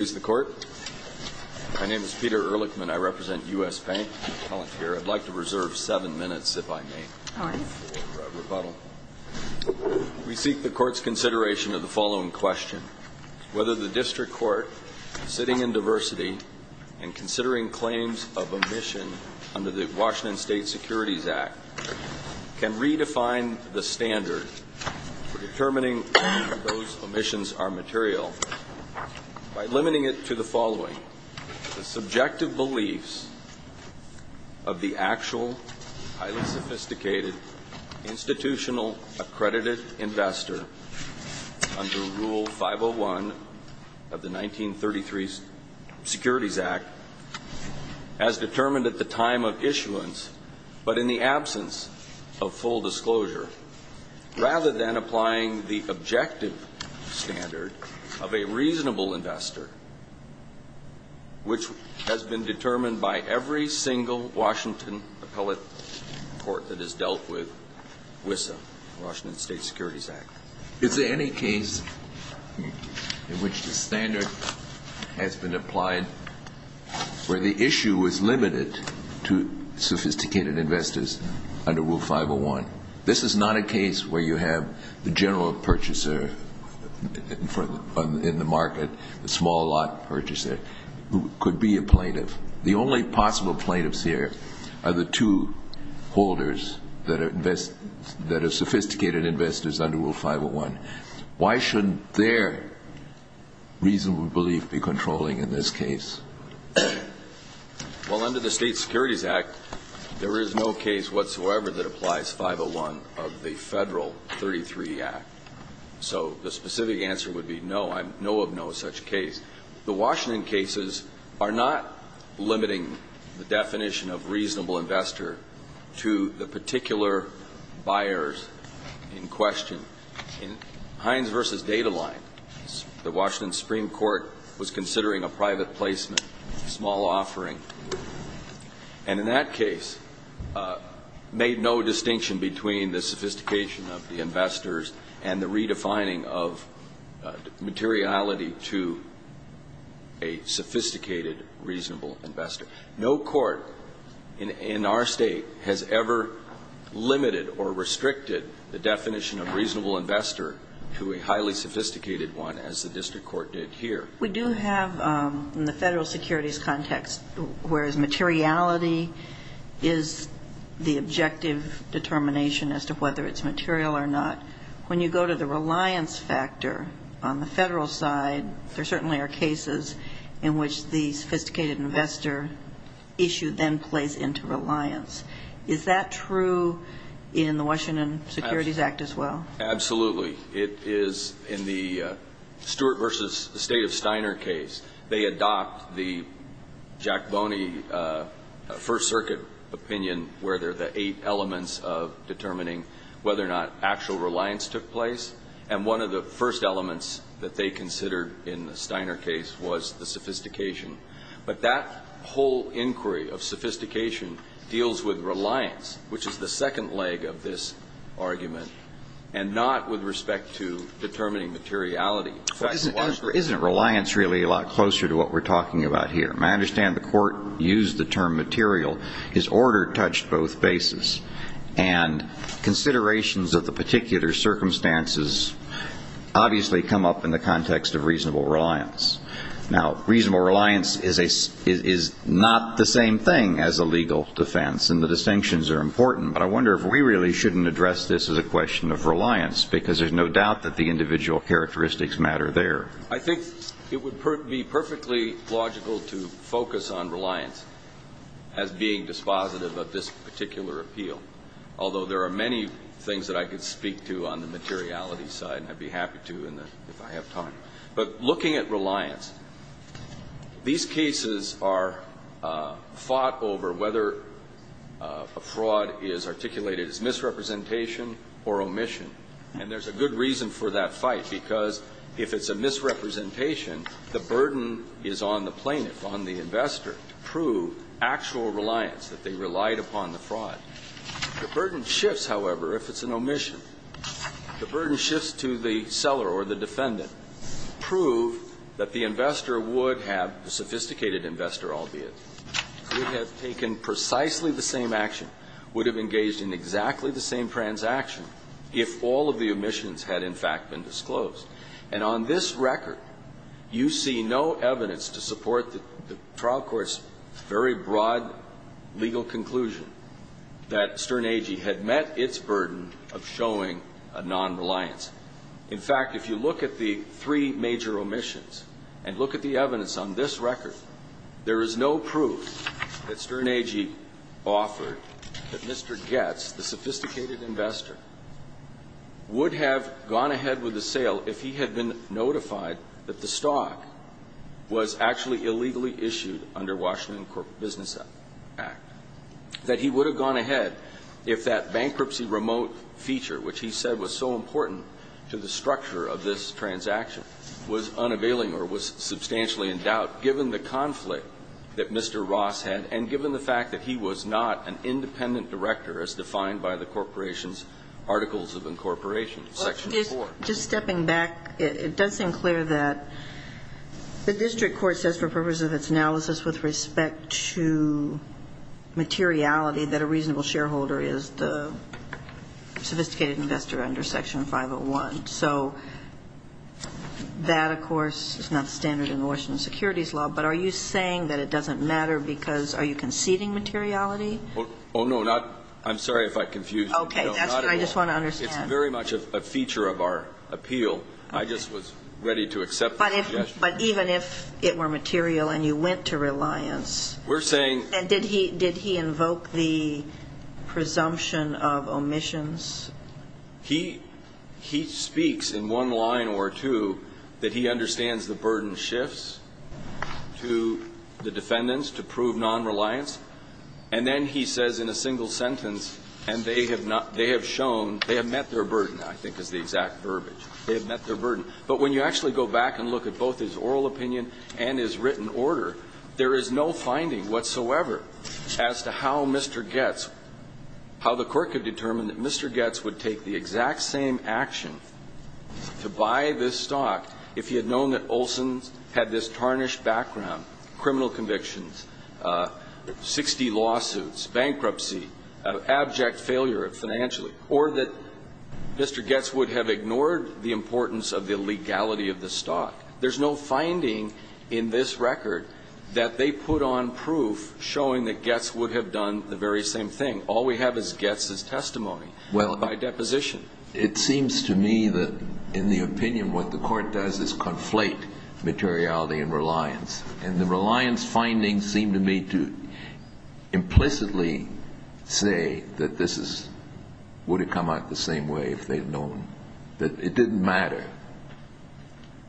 My name is Peter Ehrlichman. I represent U.S. Bank. I'd like to reserve seven minutes, if I may. We seek the Court's consideration of the following question. Whether the District Court, sitting in diversity and considering claims of omission under the Washington State Securities Act, can redefine the standard for determining whether those omissions are material by limiting it to the following. The subjective beliefs of the actual, highly sophisticated, institutional, accredited investor under Rule 501 of the 1933 Securities Act, as determined at the time of issuance, but in the absence of full disclosure, rather than applying the objective standard of a reasonable investor, which has been determined by every single Washington appellate court that has dealt with WSSA, Washington State Securities Act. Is there any case in which the standard has been applied where the issue is limited to sophisticated investors under Rule 501? This is not a case where you have the general purchaser in the market, the small lot purchaser, who could be a plaintiff. The only possible plaintiffs here are the two holders that are sophisticated investors under Rule 501. Why shouldn't their reasonable belief be controlling in this case? Well, under the State Securities Act, there is no case whatsoever that applies 501 of the Federal 33 Act. So the specific answer would be no, I know of no such case. The Washington cases are not limiting the definition of reasonable investor to the particular buyers in question. In Hines v. Data Line, the Washington Supreme Court was considering a private placement, a small offering, and in that case made no distinction between the sophistication of the investors and the redefining of materiality to a sophisticated, reasonable investor. No court in our state has ever limited or restricted the definition of reasonable investor to a highly sophisticated one, as the district court did here. We do have, in the federal securities context, whereas materiality is the objective determination as to whether it's material or not, when you go to the reliance factor on the federal side, there certainly are cases in which the sophisticated investor issue then plays into reliance. Is that true in the Washington Securities Act as well? Absolutely. It is in the Stewart v. State of Steiner case. They adopt the Jack Boney First Circuit opinion where there are the eight elements of determining whether or not actual reliance took place, and one of the first elements that they considered in the Steiner case was the sophistication. But that whole inquiry of sophistication deals with reliance, which is the second leg of this argument, and not with respect to determining materiality. Isn't reliance really a lot closer to what we're talking about here? I understand the court used the term material. His order touched both bases, and considerations of the particular circumstances obviously come up in the context of reasonable reliance. Now, reasonable reliance is not the same thing as a legal defense, and the distinctions are important, but I wonder if we really shouldn't address this as a question of reliance because there's no doubt that the individual characteristics matter there. I think it would be perfectly logical to focus on reliance as being dispositive of this particular appeal, although there are many things that I could speak to on the materiality side, and I'd be happy to if I have time. But looking at reliance, these cases are fought over whether a fraud is articulated as misrepresentation or omission, and there's a good reason for that fight, because if it's a misrepresentation, the burden is on the plaintiff, on the investor, to prove actual reliance, that they relied upon the fraud. The burden shifts, however, if it's an omission. The burden shifts to the seller or the defendant. Prove that the investor would have, the sophisticated investor, albeit, would have taken precisely the same action, would have engaged in exactly the same transaction if all of the omissions had, in fact, been disclosed. And on this record, you see no evidence to support the trial court's very broad legal conclusion that Stern Agee had met its burden of showing a non-reliance. In fact, if you look at the three major omissions and look at the evidence on this record, there is no proof that Stern Agee offered that Mr. Goetz, the sophisticated investor, would have gone ahead with the sale if he had been notified that the stock was actually illegally issued under Washington Corporate Business Act, that he would have gone ahead if that bankruptcy remote feature, which he said was so important to the structure of this transaction, was unavailing or was substantially in doubt given the conflict that Mr. Ross had and given the fact that he was not an independent director as defined by the corporation's Articles of Incorporation, Section 4. Just stepping back, it does seem clear that the district court says for purposes of its analysis with respect to materiality that a reasonable shareholder is the sophisticated investor under Section 501. So that, of course, is not standard in the Washington securities law, but are you saying that it doesn't matter because are you conceding materiality? Oh, no, not – I'm sorry if I confuse you. Okay, that's what I just want to understand. It's very much a feature of our appeal. I just was ready to accept the suggestion. But even if it were material and you went to reliance, did he invoke the presumption of omissions? He speaks in one line or two that he understands the burden shifts to the defendants to prove non-reliance, and then he says in a single sentence, and they have not – they have shown – they have met their burden, I think is the exact verbiage. They have met their burden. But when you actually go back and look at both his oral opinion and his written order, there is no finding whatsoever as to how Mr. Goetz – how the court could determine that Mr. Goetz would take the exact same action to buy this stock if he had had this tarnished background, criminal convictions, 60 lawsuits, bankruptcy, abject failure financially, or that Mr. Goetz would have ignored the importance of the legality of the stock. There's no finding in this record that they put on proof showing that Goetz would have done the very same thing. All we have is Goetz's testimony by deposition. It seems to me that in the opinion what the court does is conflate materiality and reliance, and the reliance findings seem to me to implicitly say that this is – would have come out the same way if they had known, that it didn't matter.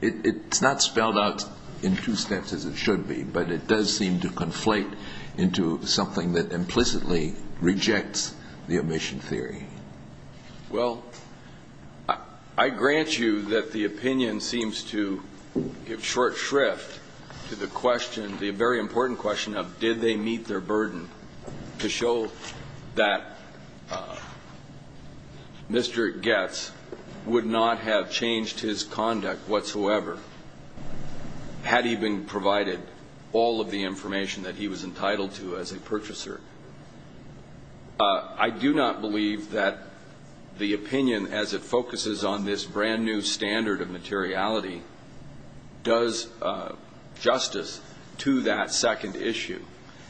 It's not spelled out in two steps as it should be, but it does seem to conflate into something that implicitly rejects the omission theory. Well, I grant you that the opinion seems to give short shrift to the question, the very important question of did they meet their burden to show that Mr. Goetz would not have changed his conduct whatsoever had he been provided all of the information that he was entitled to as a purchaser. I do not believe that the opinion as it focuses on this brand-new standard of materiality does justice to that second issue.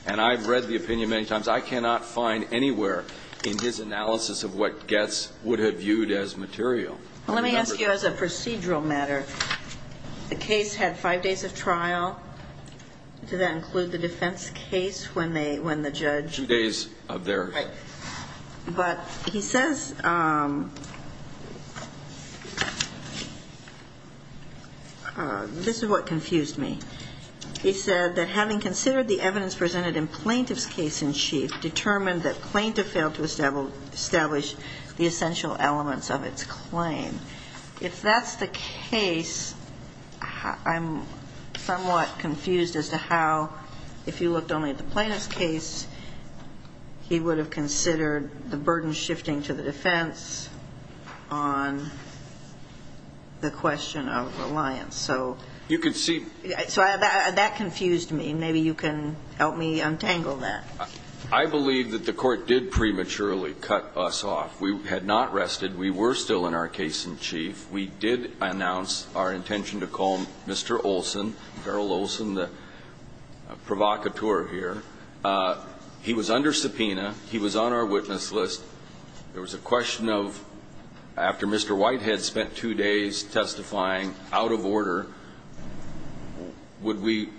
And I've read the opinion many times. I cannot find anywhere in his analysis of what Goetz would have viewed as material. Let me ask you as a procedural matter, the case had five days of trial. Does that include the defense case when the judge – Two days of their – Right. But he says – this is what confused me. He said that having considered the evidence presented in plaintiff's case in chief, determined that plaintiff failed to establish the essential elements of its claim. If that's the case, I'm somewhat confused as to how, if you looked only at the plaintiff's case, he would have considered the burden shifting to the defense on the question of reliance. So that confused me. Maybe you can help me untangle that. I believe that the court did prematurely cut us off. We had not rested. We were still in our case in chief. We did announce our intention to call Mr. Olson, Daryl Olson, the provocateur here. He was under subpoena. He was on our witness list. There was a question of, after Mr. Whitehead spent two days testifying out of order, would we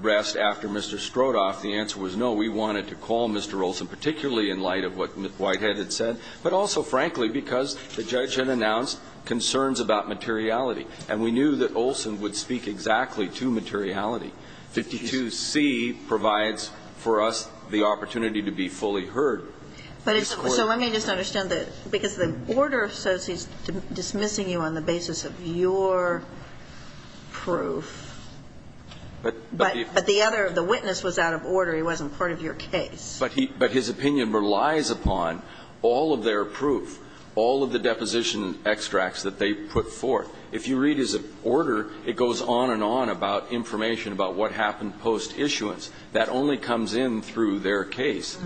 rest after Mr. Strodoff? The answer was no. We wanted to call Mr. Olson, particularly in light of what Whitehead had said, but also, frankly, because the judge had announced concerns about materiality, and we knew that Olson would speak exactly to materiality. 52C provides for us the opportunity to be fully heard. But it's a question. So let me just understand that, because the order says he's dismissing you on the basis of your proof, but the other, the witness was out of order. He wasn't part of your case. But he, but his opinion relies upon all of their proof, all of the deposition extracts that they put forth. If you read his order, it goes on and on about information about what happened post issuance. That only comes in through their case.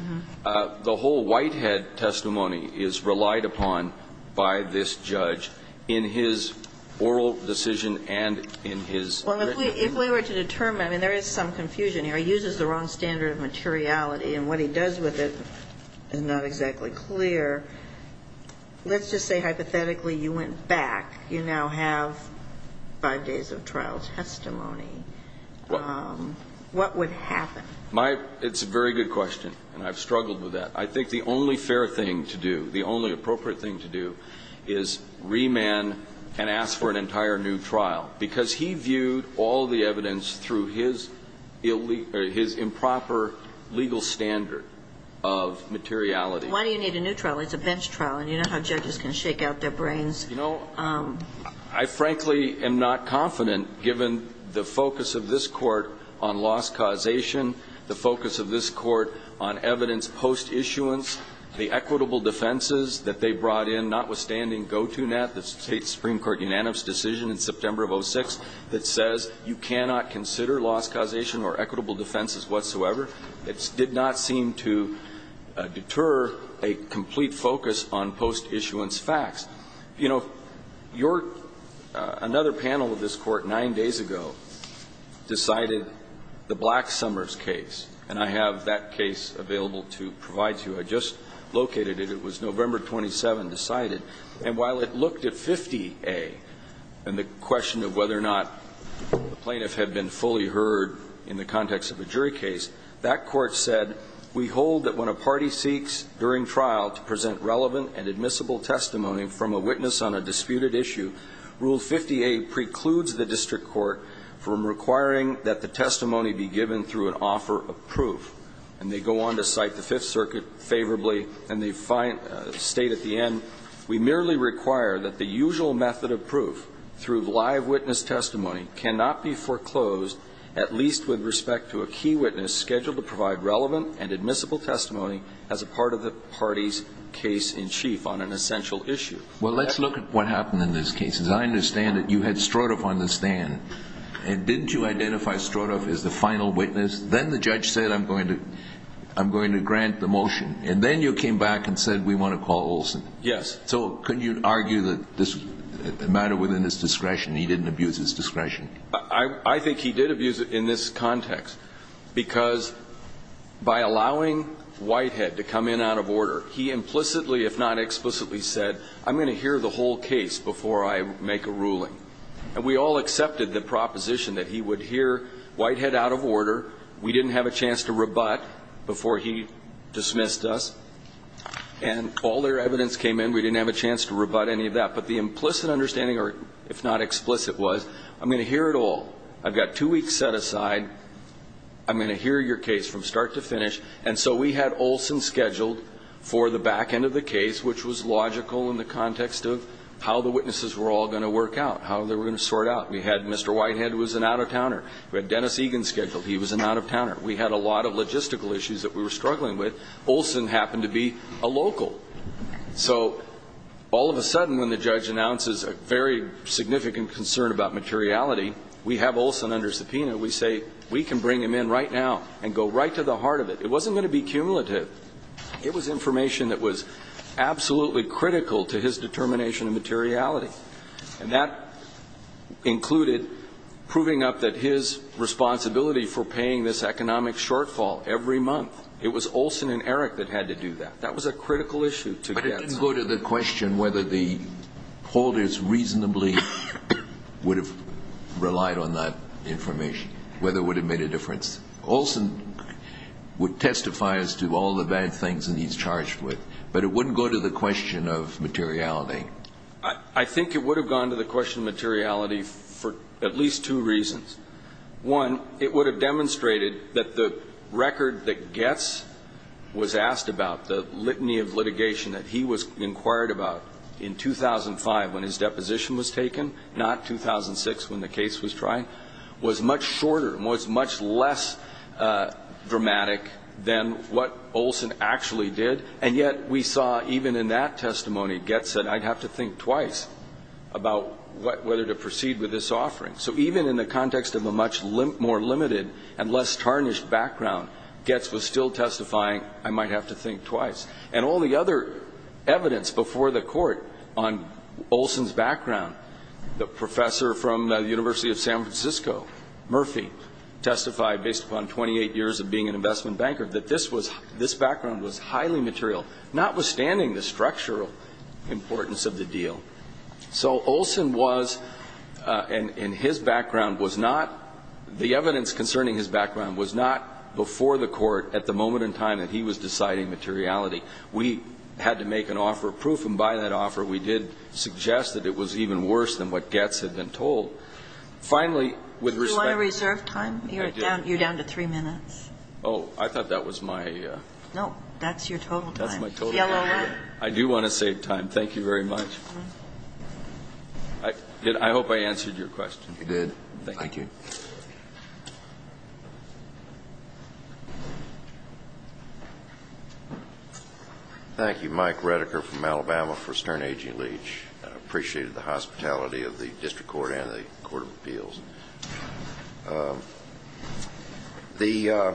The whole Whitehead testimony is relied upon by this judge in his oral decision and in his written testimony. Well, if we were to determine, I mean, there is some confusion here. He uses the wrong standard of materiality, and what he does with it is not exactly clear. Let's just say, hypothetically, you went back. You now have five days of trial testimony. What would happen? It's a very good question, and I've struggled with that. I think the only fair thing to do, the only appropriate thing to do, is remand and ask for an entire new trial. Because he viewed all the evidence through his improper legal standard of materiality. Why do you need a new trial? It's a bench trial, and you know how judges can shake out their brains. You know, I frankly am not confident, given the focus of this Court on loss causation, the focus of this Court on evidence post issuance, the equitable defenses that they brought in, notwithstanding GoToNet, the State's Supreme Court unanimous decision in September of 06 that says you cannot consider loss causation or equitable defenses whatsoever. It did not seem to deter a complete focus on post issuance facts. You know, your – another panel of this Court 9 days ago decided the Black-Somers case, and I have that case available to provide to you. I just located it. It was November 27 decided. And while it looked at 50A and the question of whether or not the plaintiff had been fully heard in the context of a jury case, that Court said, We hold that when a party seeks, during trial, to present relevant and admissible testimony from a witness on a disputed issue, Rule 50A precludes the district court from requiring that the testimony be given through an offer of proof. And they go on to cite the Fifth Circuit favorably, and they state at the end, We merely require that the usual method of proof, through live witness testimony, cannot be foreclosed, at least with respect to a key witness scheduled to provide relevant and admissible testimony as a part of the party's case in chief on an essential issue. Well, let's look at what happened in this case. As I understand it, you had Strodoff on the stand. And didn't you identify Strodoff as the final witness? Then the judge said, I'm going to grant the motion. And then you came back and said, We want to call Olson. Yes. So couldn't you argue that this was a matter within his discretion? He didn't abuse his discretion. I think he did abuse it in this context. Because by allowing Whitehead to come in out of order, he implicitly, if not explicitly, said, I'm going to hear the whole case before I make a ruling. And we all accepted the proposition that he would hear Whitehead out of order. We didn't have a chance to rebut before he dismissed us. And all their evidence came in. We didn't have a chance to rebut any of that. But the implicit understanding, or if not explicit, was, I'm going to hear it all. I've got two weeks set aside. I'm going to hear your case from start to finish. And so we had Olson scheduled for the back end of the case, which was logical in the context of how the witnesses were all going to work out, how they were going to sort out. We had Mr. Whitehead was an out-of-towner. We had Dennis Egan scheduled. He was an out-of-towner. We had a lot of logistical issues that we were struggling with. Olson happened to be a local. So all of a sudden when the judge announces a very significant concern about materiality, we have Olson under subpoena. We say, we can bring him in right now and go right to the heart of it. It wasn't going to be cumulative. It was information that was absolutely critical to his determination of materiality. And that included proving up that his responsibility for paying this economic shortfall every month, it was Olson and Eric that had to do that. That was a critical issue to get. But it didn't go to the question whether the holders reasonably would have relied on that information, whether it would have made a difference. Olson would testify as to all the bad things that he's charged with, but it wouldn't go to the question of materiality. I think it would have gone to the question of materiality for at least two reasons. One, it would have demonstrated that the record that Goetz was asked about, the litany of litigation that he was inquired about in 2005 when his deposition was taken, not 2006 when the case was tried, was much shorter and was much less dramatic than what Olson actually did. And yet we saw even in that testimony Goetz said, I'd have to think twice about whether to proceed with this offering. So even in the context of a much more limited and less tarnished background, Goetz was still testifying, I might have to think twice. And all the other evidence before the court on Olson's background, the professor from the University of San Francisco, Murphy, who testified based upon 28 years of being an investment banker, that this was, this background was highly material, notwithstanding the structural importance of the deal. So Olson was, and his background was not, the evidence concerning his background was not before the court at the moment in time that he was deciding materiality. We had to make an offer of proof, and by that offer we did suggest that it was even worse than what Goetz had been told. Finally, with respect to the... Do you want to reserve time? I do. You're down to three minutes. Oh, I thought that was my... No, that's your total time. That's my total time. Yellow hat. I do want to save time. Thank you very much. I hope I answered your question. You did. Thank you. Thank you. Thank you. Mike Redeker from Alabama for Stern, A.G. Leach. I appreciated the hospitality of the district court and the court of appeals. The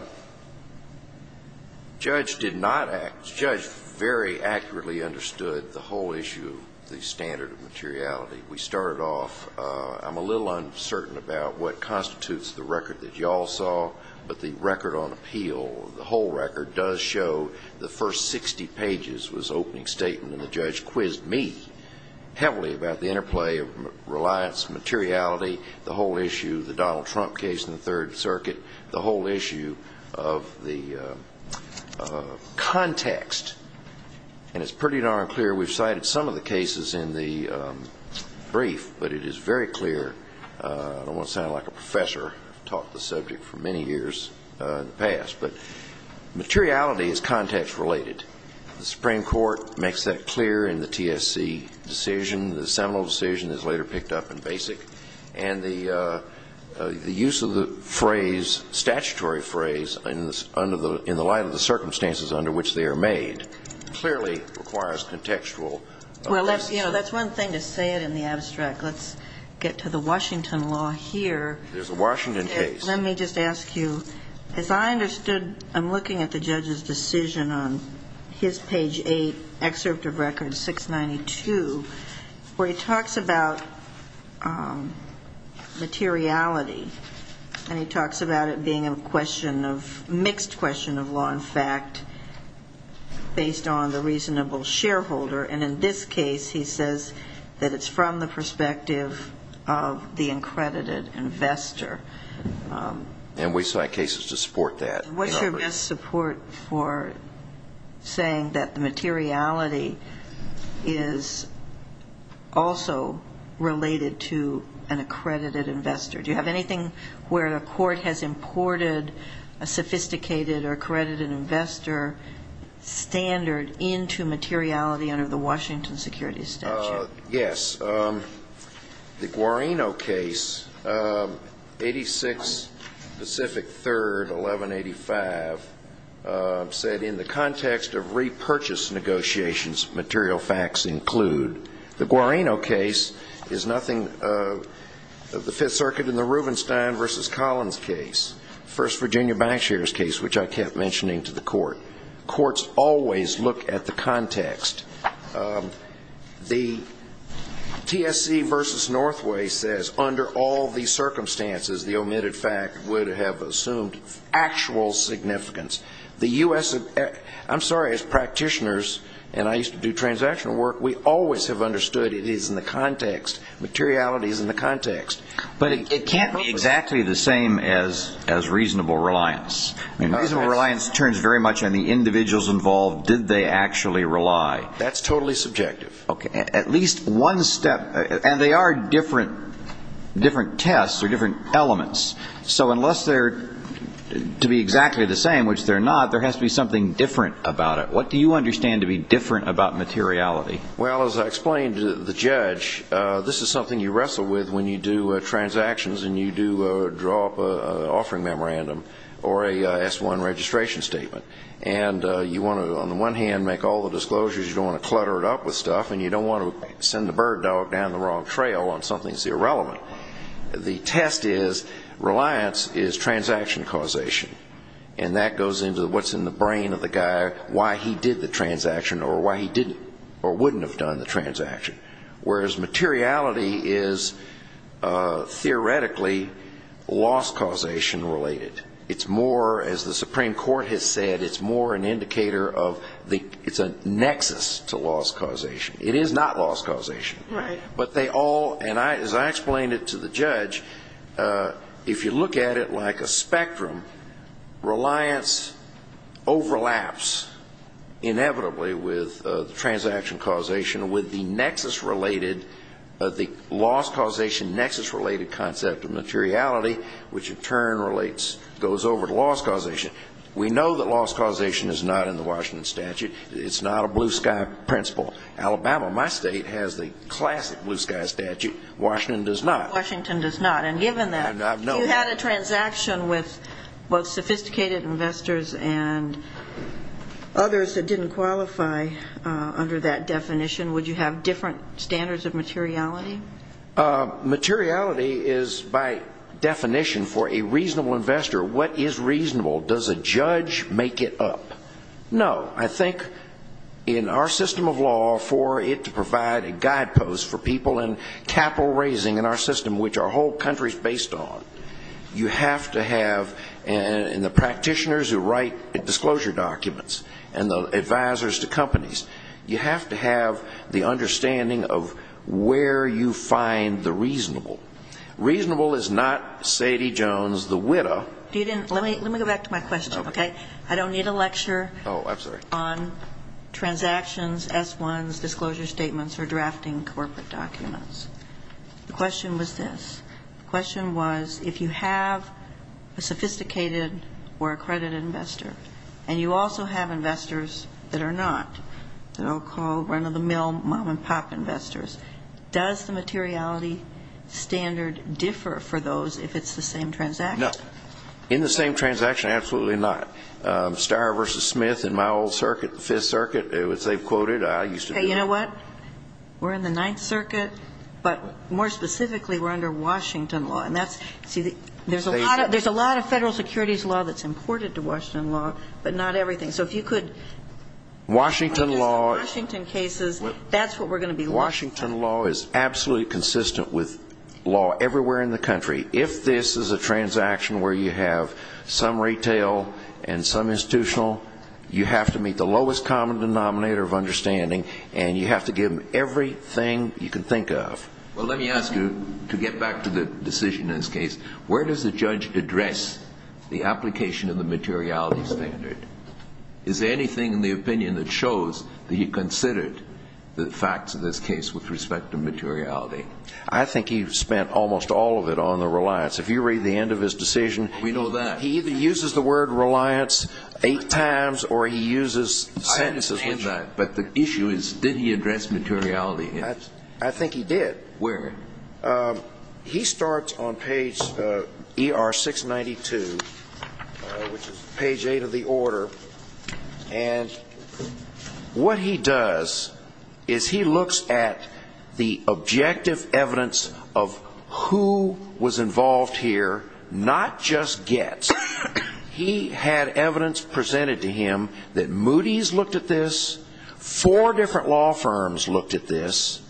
judge did not act. The judge very accurately understood the whole issue of the standard of materiality. We started off. I'm a little uncertain about what constitutes the record that you all saw, but the record on appeal, the whole record, does show the first 60 pages was opening statement, and the judge quizzed me heavily about the interplay of reliance, materiality, the whole issue, the Donald Trump case in the Third Circuit, the whole issue of the context, and it's pretty darn clear. We've cited some of the cases in the brief, but it is very clear. I don't want to sound like a professor. I've taught the subject for many years in the past, but materiality is context related. The Supreme Court makes that clear in the TSC decision. The seminal decision is later picked up in BASIC, and the use of the phrase, statutory phrase, in the light of the circumstances under which they are made clearly requires contextual. Well, that's one thing to say it in the abstract. Let's get to the Washington law here. There's a Washington case. Let me just ask you, as I understood I'm looking at the judge's decision on his page eight, excerpt of record 692, where he talks about materiality, and he talks about it being a question of mixed question of law and fact based on the reasonable shareholder, and in this case he says that it's from the perspective of the accredited investor. And we cite cases to support that. What's your best support for saying that the materiality is also related to an accredited investor? Do you have anything where the court has imported a sophisticated or accredited investor standard into materiality under the Washington security statute? Yes. The Guarino case, 86 Pacific 3rd, 1185, said, in the context of repurchase negotiations, material facts include. The Guarino case is nothing of the Fifth Circuit in the Rubenstein v. Collins case, first Virginia bank shares case, which I kept mentioning to the court. Courts always look at the context. The TSC v. Northway says under all the circumstances the omitted fact would have assumed actual significance. The U.S. I'm sorry, as practitioners, and I used to do transactional work, we always have understood it is in the context, materiality is in the context. But it can't be exactly the same as reasonable reliance. Reasonable reliance turns very much on the individuals involved. Did they actually rely? That's totally subjective. Okay. At least one step. And they are different tests or different elements. So unless they're to be exactly the same, which they're not, there has to be something different about it. What do you understand to be different about materiality? Well, as I explained to the judge, this is something you wrestle with when you do transactions and you do draw up an offering memorandum or a S-1 registration statement. And you want to, on the one hand, make all the disclosures. You don't want to clutter it up with stuff. And you don't want to send the bird dog down the wrong trail on something that's irrelevant. The test is reliance is transaction causation. And that goes into what's in the brain of the guy, why he did the transaction or why he didn't or wouldn't have done the transaction. Whereas materiality is theoretically loss causation related. It's more, as the Supreme Court has said, it's more an indicator of it's a nexus to loss causation. It is not loss causation. Right. But they all, and as I explained it to the judge, if you look at it like a spectrum, reliance overlaps inevitably with the transaction causation with the nexus related, the loss causation nexus related concept of materiality, which in turn relates, goes over to loss causation. We know that loss causation is not in the Washington statute. It's not a blue sky principle. Alabama, my state, has the classic blue sky statute. Washington does not. Washington does not. And given that, if you had a transaction with both sophisticated investors and others that didn't qualify under that definition, would you have different standards of materiality? Materiality is, by definition, for a reasonable investor, what is reasonable? Does a judge make it up? No. I think in our system of law, for it to provide a guidepost for people in capital raising in our system, which our whole country is based on, you have to have, and the practitioners who write disclosure documents and the advisors to companies, you have to have the understanding of where you find the reasonable. Reasonable is not Sadie Jones, the widow. Let me go back to my question, okay? I don't need a lecture on transactions, S1s, disclosure statements, or drafting corporate documents. The question was this. The question was, if you have a sophisticated or accredited investor and you also have investors that are not, that I'll call run-of-the-mill mom-and-pop investors, does the materiality standard differ for those if it's the same transaction? No. In the same transaction, absolutely not. Starr v. Smith in my old circuit, the Fifth Circuit, as they've quoted, I used to do that. Okay. You know what? We're in the Ninth Circuit, but more specifically, we're under Washington law. There's a lot of federal securities law that's important to Washington law, but not everything. So if you could address the Washington cases, that's what we're going to be looking for. Washington law is absolutely consistent with law everywhere in the country. If this is a transaction where you have some retail and some institutional, you have to meet the lowest common denominator of understanding, and you have to give them everything you can think of. Well, let me ask you, to get back to the decision in this case, where does the judge address the application of the materiality standard? Is there anything in the opinion that shows that he considered the facts of this case with respect to materiality? I think he spent almost all of it on the reliance. If you read the end of his decision, he either uses the word reliance eight times or he uses sentences. I understand that, but the issue is did he address materiality? I think he did. Where? He starts on page ER 692, which is page eight of the order, and what he does is he looks at the objective evidence of who was involved here, not just gets. He had evidence presented to him that Moody's looked at this, four different law firms looked at this,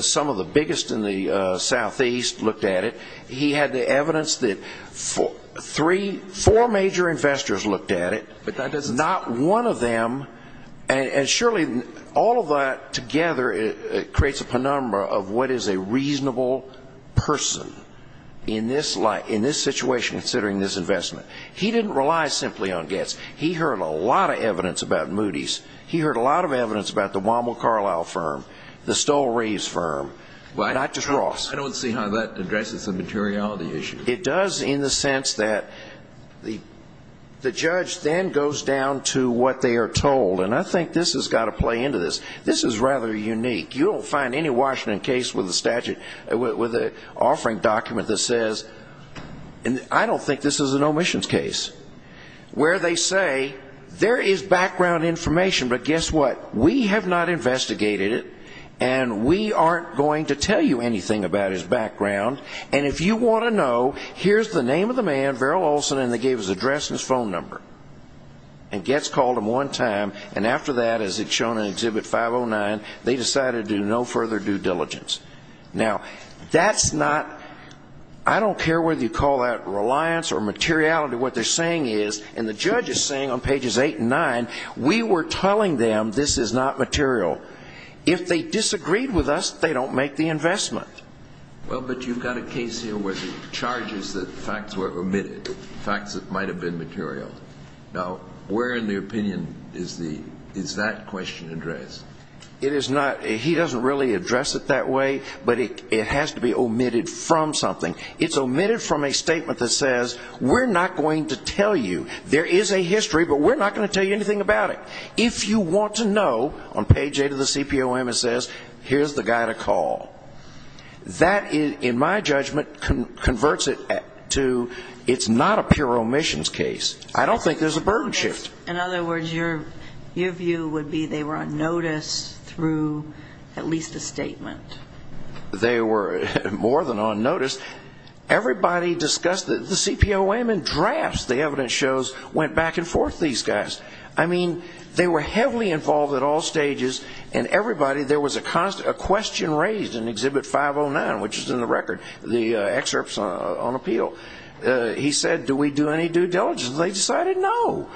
some of the biggest in the southeast looked at it. He had the evidence that four major investors looked at it, not one of them, and surely all of that together creates a penumbra of what is a reasonable person in this situation, considering this investment. He didn't rely simply on gets. He heard a lot of evidence about Moody's. He heard a lot of evidence about the Womble Carlisle firm, the Stoll Reeves firm, not just Ross. I don't see how that addresses the materiality issue. It does in the sense that the judge then goes down to what they are told, and I think this has got to play into this. This is rather unique. You don't find any Washington case with an offering document that says, I don't think this is an omissions case, where they say there is background information, but guess what? We have not investigated it, and we aren't going to tell you anything about his background, and if you want to know, here's the name of the man, Verrill Olson, and they gave his address and his phone number, and gets called him one time, and after that, as it's shown in Exhibit 509, they decided to do no further due diligence. Now, that's not, I don't care whether you call that reliance or materiality, what they're saying is, and the judge is saying on pages eight and nine, we were telling them this is not material. If they disagreed with us, they don't make the investment. Well, but you've got a case here where the charges that facts were omitted, facts that might have been material. Now, where in the opinion is that question addressed? It is not, he doesn't really address it that way, but it has to be omitted from something. It's omitted from a statement that says, we're not going to tell you. There is a history, but we're not going to tell you anything about it. If you want to know, on page eight of the CPOM it says, here's the guy to call. That, in my judgment, converts it to, it's not a pure omissions case. I don't think there's a burden shift. In other words, your view would be they were on notice through at least a statement. They were more than on notice. Everybody discussed the CPOM in drafts, the evidence shows, went back and forth, these guys. I mean, they were heavily involved at all stages, and everybody, there was a question raised in Exhibit 509, which is in the record, the excerpts on appeal. He said, do we do any due diligence? They decided no,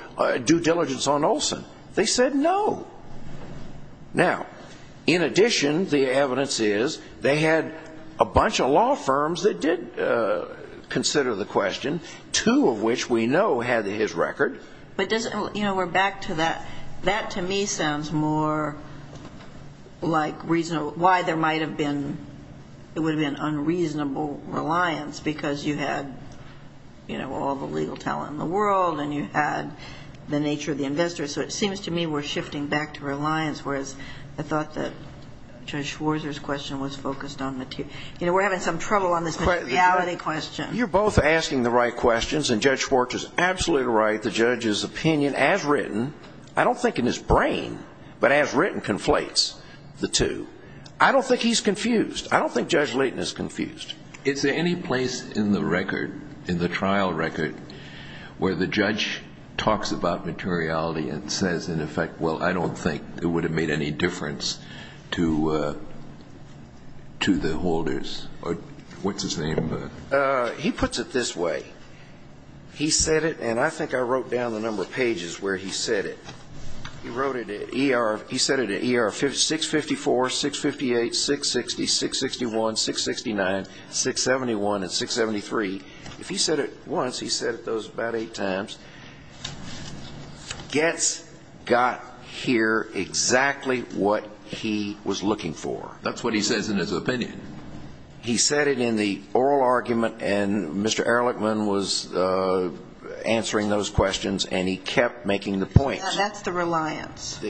due diligence on Olson. They said no. Now, in addition, the evidence is they had a bunch of law firms that did consider the question, two of which we know had his record. But does, you know, we're back to that. That, to me, sounds more like reasonable, why there might have been, it would have been unreasonable reliance because you had, you know, all the legal talent in the world, and you had the nature of the investors. So it seems to me we're shifting back to reliance, whereas I thought that Judge Schwarzer's question was focused on material. You know, we're having some trouble on this materiality question. You're both asking the right questions, and Judge Schwarzer's absolutely right. The judge's opinion, as written, I don't think in his brain, but as written, conflates the two. I don't think he's confused. I don't think Judge Leighton is confused. Is there any place in the record, in the trial record, where the judge talks about materiality and says, in effect, well, I don't think it would have made any difference to the holders? Or what's his name? He puts it this way. He said it, and I think I wrote down the number of pages where he said it. He wrote it at ER. He said it at ER 654, 658, 660, 661, 669, 671, and 673. If he said it once, he said it those about eight times. Getz got here exactly what he was looking for. That's what he says in his opinion. He said it in the oral argument, and Mr. Ehrlichman was answering those questions, and he kept making the points. That's the reliance.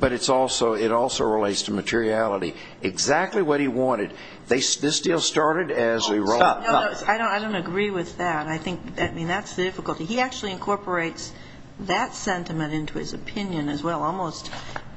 But it also relates to materiality. Exactly what he wanted. This deal started as a reliance. I don't agree with that. I think that's the difficulty. He actually incorporates that sentiment into his opinion as well, almost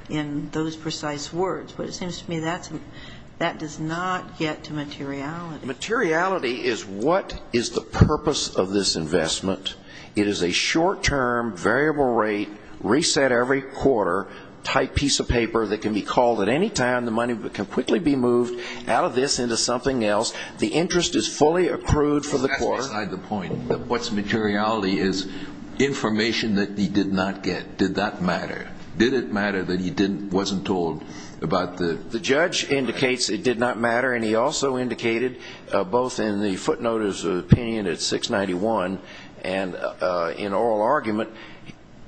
in those precise words. But it seems to me that does not get to materiality. Materiality is what is the purpose of this investment. It is a short-term, variable rate, reset every quarter type piece of paper that can be called at any time. The money can quickly be moved out of this into something else. The interest is fully accrued for the quarter. That's beside the point. What's materiality is information that he did not get. Did that matter? Did it matter that he wasn't told about the ---- The judge indicates it did not matter, and he also indicated both in the footnotice opinion at 691 and in oral argument,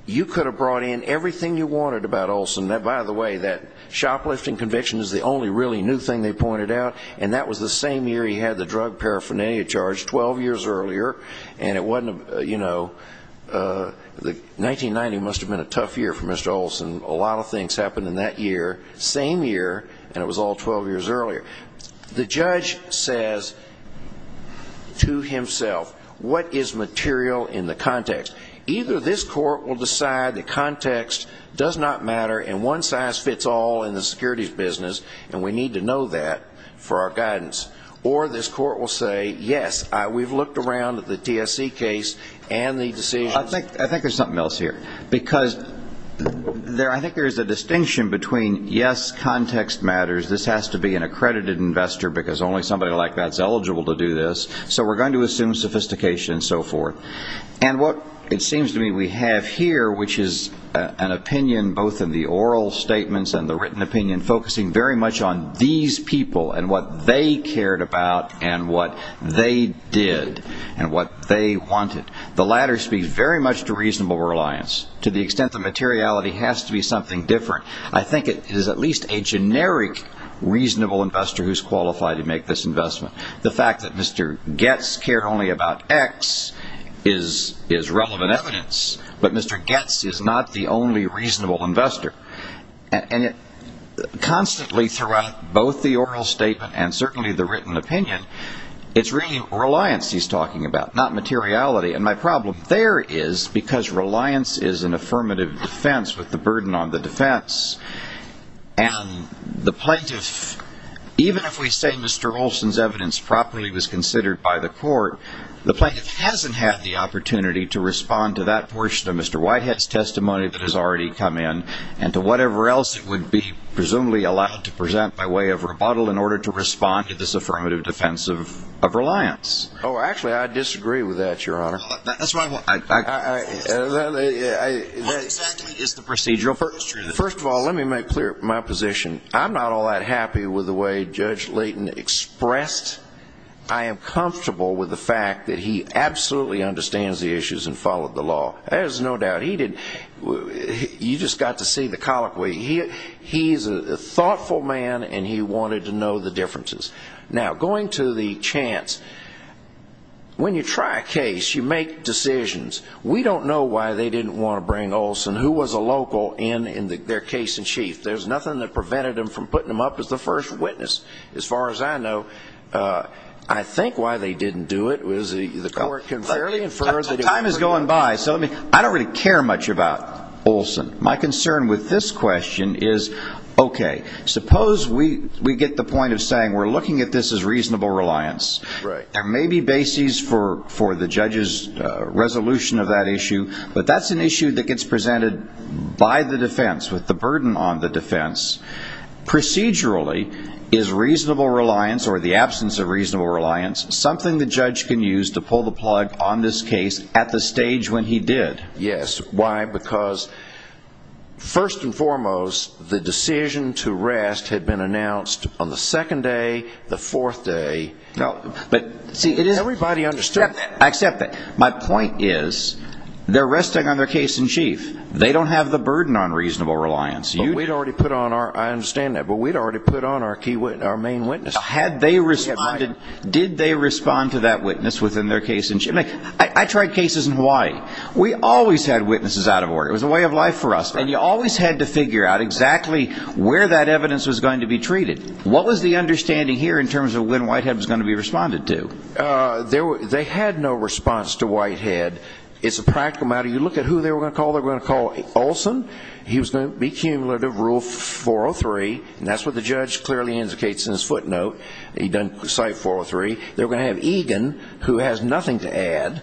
you could have brought in everything you wanted about Olson. By the way, that shoplifting conviction is the only really new thing they pointed out, and that was the same year he had the drug paraphernalia charge, 12 years earlier. And it wasn't, you know, 1990 must have been a tough year for Mr. Olson. A lot of things happened in that year, same year, and it was all 12 years earlier. The judge says to himself, what is material in the context? Either this court will decide the context does not matter and one size fits all in the securities business, or this court will say, yes, we've looked around at the TSC case and the decisions. I think there's something else here, because I think there's a distinction between, yes, context matters, this has to be an accredited investor because only somebody like that is eligible to do this, so we're going to assume sophistication and so forth. And what it seems to me we have here, which is an opinion both in the oral statements and the written opinion focusing very much on these people and what they cared about and what they did and what they wanted. The latter speaks very much to reasonable reliance to the extent that materiality has to be something different. I think it is at least a generic reasonable investor who's qualified to make this investment. The fact that Mr. Goetz cared only about X is relevant evidence, but Mr. Goetz is not the only reasonable investor. Constantly throughout both the oral statement and certainly the written opinion, it's really reliance he's talking about, not materiality. And my problem there is because reliance is an affirmative defense with the burden on the defense, and the plaintiff, even if we say Mr. Olson's evidence properly was considered by the court, the plaintiff hasn't had the opportunity to respond to that portion of Mr. Whitehead's testimony that has already come in and to whatever else it would be presumably allowed to present by way of rebuttal in order to respond to this affirmative defense of reliance. Oh, actually, I disagree with that, Your Honor. That's my point. How exactly is the procedural purpose true? First of all, let me make clear my position. I'm not all that happy with the way Judge Layton expressed I am comfortable with the fact that he absolutely understands the issues and followed the law. There's no doubt. You just got to see the colloquy. He's a thoughtful man, and he wanted to know the differences. Now, going to the chance, when you try a case, you make decisions. We don't know why they didn't want to bring Olson, who was a local, in their case in chief. There's nothing that prevented them from putting him up as the first witness, as far as I know. I think why they didn't do it was the court can fairly infer that it wasn't him. Time is going by. I don't really care much about Olson. My concern with this question is, okay, suppose we get the point of saying we're looking at this as reasonable reliance. There may be bases for the judge's resolution of that issue, but that's an issue that gets presented by the defense, with the burden on the defense. Procedurally, is reasonable reliance, or the absence of reasonable reliance, something the judge can use to pull the plug on this case at the stage when he did? Yes. Why? Because, first and foremost, the decision to rest had been announced on the second day, the fourth day. Everybody understood that. I accept that. My point is, they're resting on their case in chief. They don't have the burden on reasonable reliance. I understand that, but we'd already put on our main witness. Did they respond to that witness within their case in chief? I tried cases in Hawaii. We always had witnesses out of order. It was a way of life for us, and you always had to figure out exactly where that evidence was going to be treated. What was the understanding here in terms of when Whitehead was going to be responded to? They had no response to Whitehead. It's a practical matter. You look at who they were going to call. They were going to call Olson. He was going to be cumulative, Rule 403, and that's what the judge clearly indicates in his footnote. He doesn't cite 403. They were going to have Egan, who has nothing to add,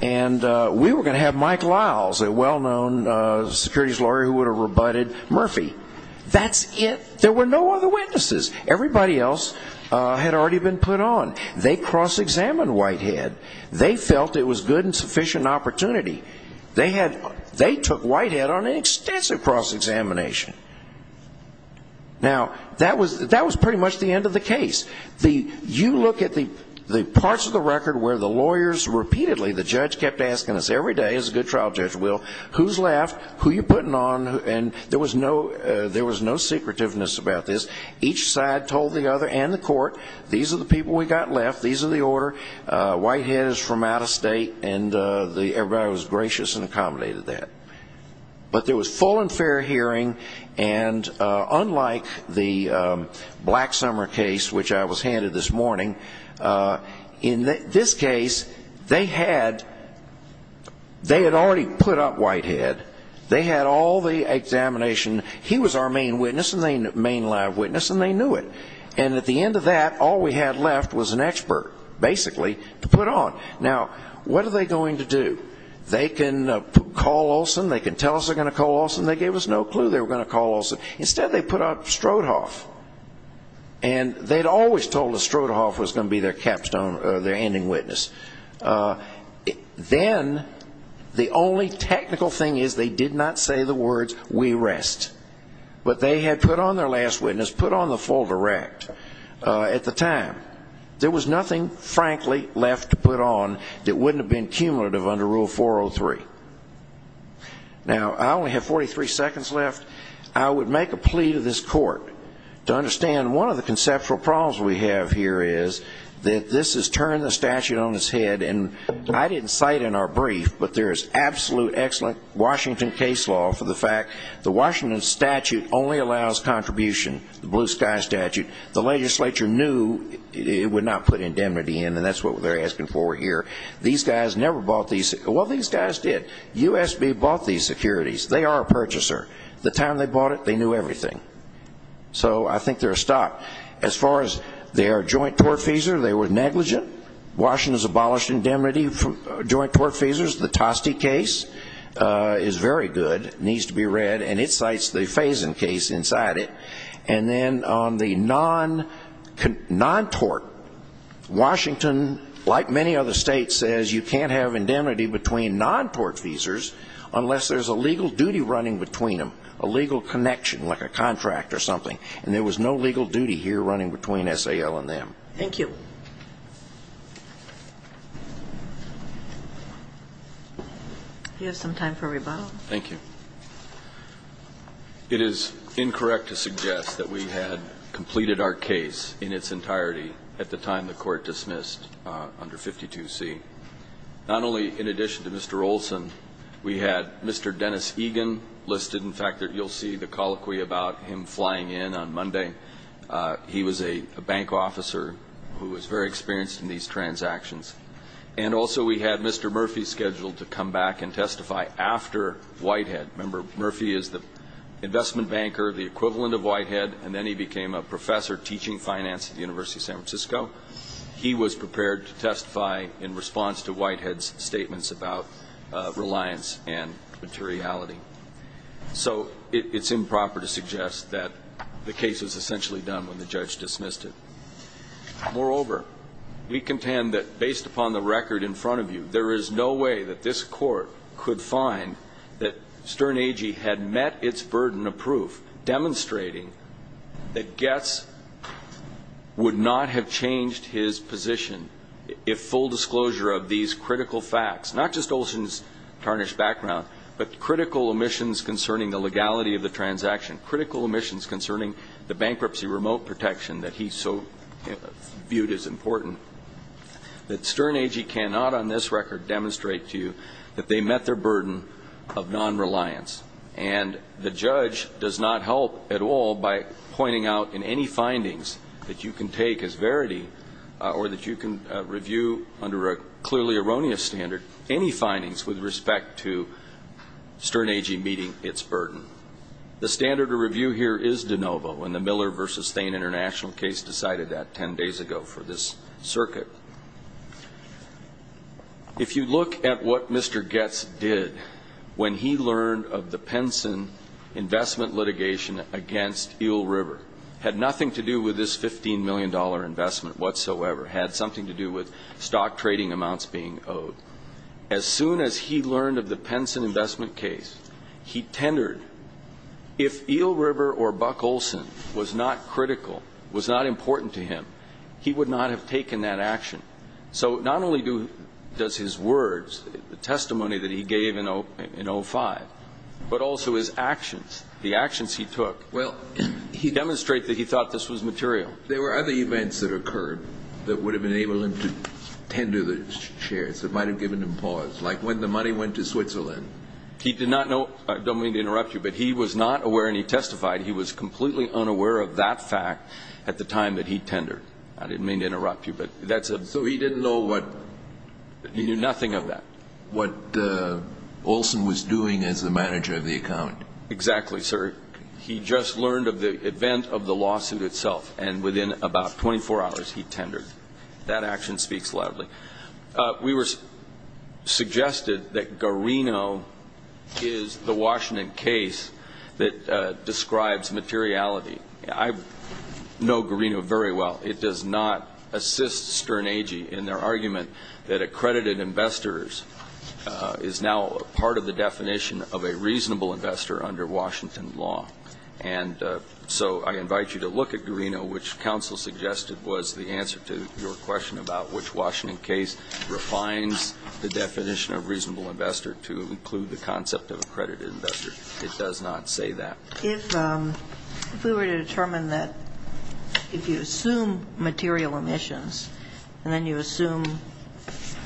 and we were going to have Mike Liles, a well-known securities lawyer who would have rebutted Murphy. That's it. There were no other witnesses. Everybody else had already been put on. They cross-examined Whitehead. They felt it was good and sufficient opportunity. They took Whitehead on an extensive cross-examination. Now, that was pretty much the end of the case. You look at the parts of the record where the lawyers repeatedly, the judge kept asking us every day, as a good trial judge will, who's left, who you're putting on, and there was no secretiveness about this. Each side told the other and the court, these are the people we got left, these are the order, Whitehead is from out of state, and everybody was gracious and accommodated that. But there was full and fair hearing, and unlike the Black Summer case, which I was handed this morning, in this case, they had already put up Whitehead. They had all the examination. He was our main live witness, and they knew it. And at the end of that, all we had left was an expert, basically, to put on. Now, what are they going to do? They can call Olson, they can tell us they're going to call Olson. They gave us no clue they were going to call Olson. Instead, they put up Strodhoff. And they had always told us Strodhoff was going to be their capstone, their ending witness. Then, the only technical thing is they did not say the words, we rest. But they had put on their last witness, put on the full direct, at the time. There was nothing, frankly, left to put on that wouldn't have been cumulative under Rule 403. Now, I only have 43 seconds left. I would make a plea to this court to understand one of the conceptual problems we have here is that this has turned the statute on its head. And I didn't cite in our brief, but there is absolute excellent Washington case law for the fact the Washington statute only allows contribution, the Blue Sky statute. The legislature knew it would not put indemnity in, and that's what they're asking for here. These guys never bought these. Well, these guys did. USB bought these securities. They are a purchaser. The time they bought it, they knew everything. So I think they're a stop. As far as their joint tort fees, they were negligent. Washington has abolished indemnity from joint tort fees. The Toste case is very good, needs to be read, and it cites the Faison case inside it. And then on the non-tort, Washington, like many other states, says you can't have indemnity between non-tort fees unless there's a legal duty running between them, a legal connection, like a contract or something. And there was no legal duty here running between SAL and them. Thank you. You have some time for rebuttal. Thank you. It is incorrect to suggest that we had completed our case in its entirety at the time the court dismissed under 52C. Not only in addition to Mr. Olson, we had Mr. Dennis Egan listed. In fact, you'll see the colloquy about him flying in on Monday. He was a bank officer who was very experienced in these transactions. And also we had Mr. Murphy scheduled to come back and testify after Whitehead. Remember, Murphy is the investment banker, the equivalent of Whitehead, and then he became a professor teaching finance at the University of San Francisco. He was prepared to testify in response to Whitehead's statements about reliance and materiality. So it's improper to suggest that the case was essentially done when the judge dismissed it. Moreover, we contend that based upon the record in front of you, there is no way that this court could find that Stern Agee had met its burden of proof demonstrating that Goetz would not have changed his position if full disclosure of these critical facts, not just Olson's tarnished background, but critical omissions concerning the legality of the transaction, critical omissions concerning the bankruptcy remote protection that he so viewed as important, that Stern Agee cannot on this record demonstrate to you that they met their burden of non-reliance. And the judge does not help at all by pointing out in any findings that you can take as verity or that you can review under a clearly erroneous standard any findings with respect to Stern Agee meeting its burden. The standard of review here is de novo, and the Miller v. Thain international case decided that 10 days ago for this circuit. If you look at what Mr. Goetz did when he learned of the Penson investment litigation against Eel River, had nothing to do with this $15 million investment whatsoever, had something to do with stock trading amounts being owed. As soon as he learned of the Penson investment case, he tendered. If Eel River or Buck Olson was not critical, was not important to him, he would not have taken that action. So not only does his words, the testimony that he gave in 2005, but also his actions, the actions he took, demonstrate that he thought this was material. There were other events that occurred that would have enabled him to tender the shares, that might have given him pause, like when the money went to Switzerland. He did not know, I don't mean to interrupt you, but he was not aware and he testified he was completely unaware of that fact at the time that he tendered. I didn't mean to interrupt you, but that's a... So he didn't know what... He knew nothing of that. What Olson was doing as the manager of the account. Exactly, sir. He just learned of the event of the lawsuit itself, and within about 24 hours he tendered. That action speaks loudly. We were suggested that Garino is the Washington case that describes materiality. I know Garino very well. It does not assist Stern Agee in their argument that accredited investors is now part of the definition of a reasonable investor under Washington law. Garino, which counsel suggested, was the answer to your question about which Washington case refines the definition of reasonable investor to include the concept of accredited investor. It does not say that. If we were to determine that if you assume material emissions and then you assume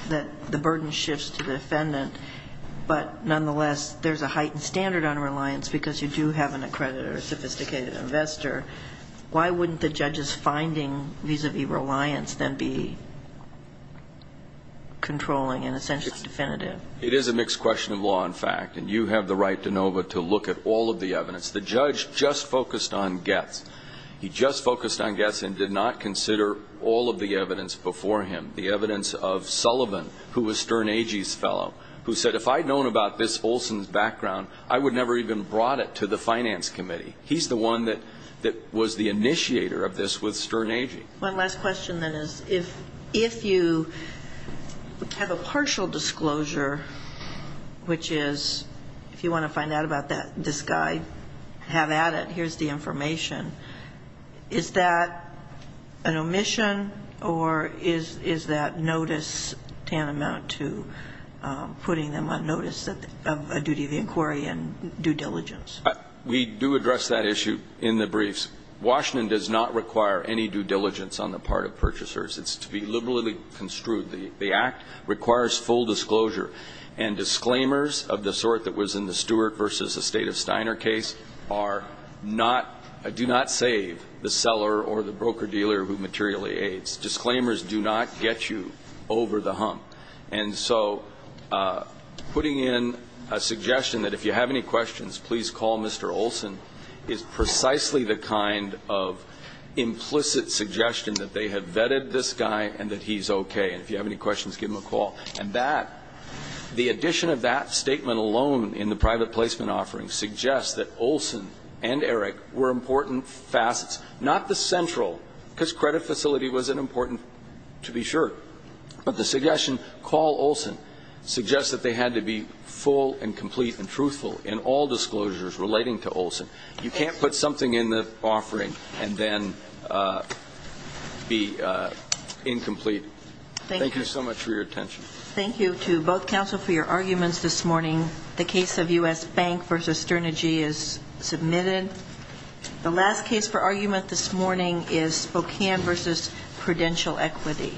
that the burden shifts to the defendant, but nonetheless there's a heightened standard on reliance because you do have an accredited or sophisticated investor, why wouldn't the judge's finding vis-à-vis reliance then be controlling and essentially definitive? It is a mixed question of law and fact, and you have the right, DeNova, to look at all of the evidence. The judge just focused on Getz. He just focused on Getz and did not consider all of the evidence before him, the evidence of Sullivan, who was Stern Agee's fellow, who said if I'd known about this Olson's background, I would never even have brought it to the Finance Committee. He's the one that was the initiator of this with Stern Agee. One last question then is if you have a partial disclosure, which is, if you want to find out about this guy, have at it, here's the information, is that an omission or is that notice tantamount to putting them on notice of a duty of inquiry and due diligence? We do address that issue in the briefs. Washington does not require any due diligence on the part of purchasers. It's to be liberally construed. The Act requires full disclosure, and disclaimers of the sort that was in the Stewart versus the State of Steiner case are not, do not save the seller or the broker-dealer who materially aids. Disclaimers do not get you over the hump. And so putting in a suggestion that if you have any questions, please call Mr. Olson, is precisely the kind of implicit suggestion that they have vetted this guy and that he's okay, and if you have any questions, give him a call. And that, the addition of that statement alone in the private placement offering suggests that Olson and Eric were important facets, not the central, because credit facility was important to be sure, but the suggestion, call Olson, suggests that they had to be full and complete and truthful in all disclosures relating to Olson. You can't put something in the offering and then be incomplete. Thank you so much for your attention. Thank you to both counsel for your arguments this morning. The case of U.S. Bank versus Sterne G is submitted. The last case for argument this morning is Spokane versus Prudential Equity.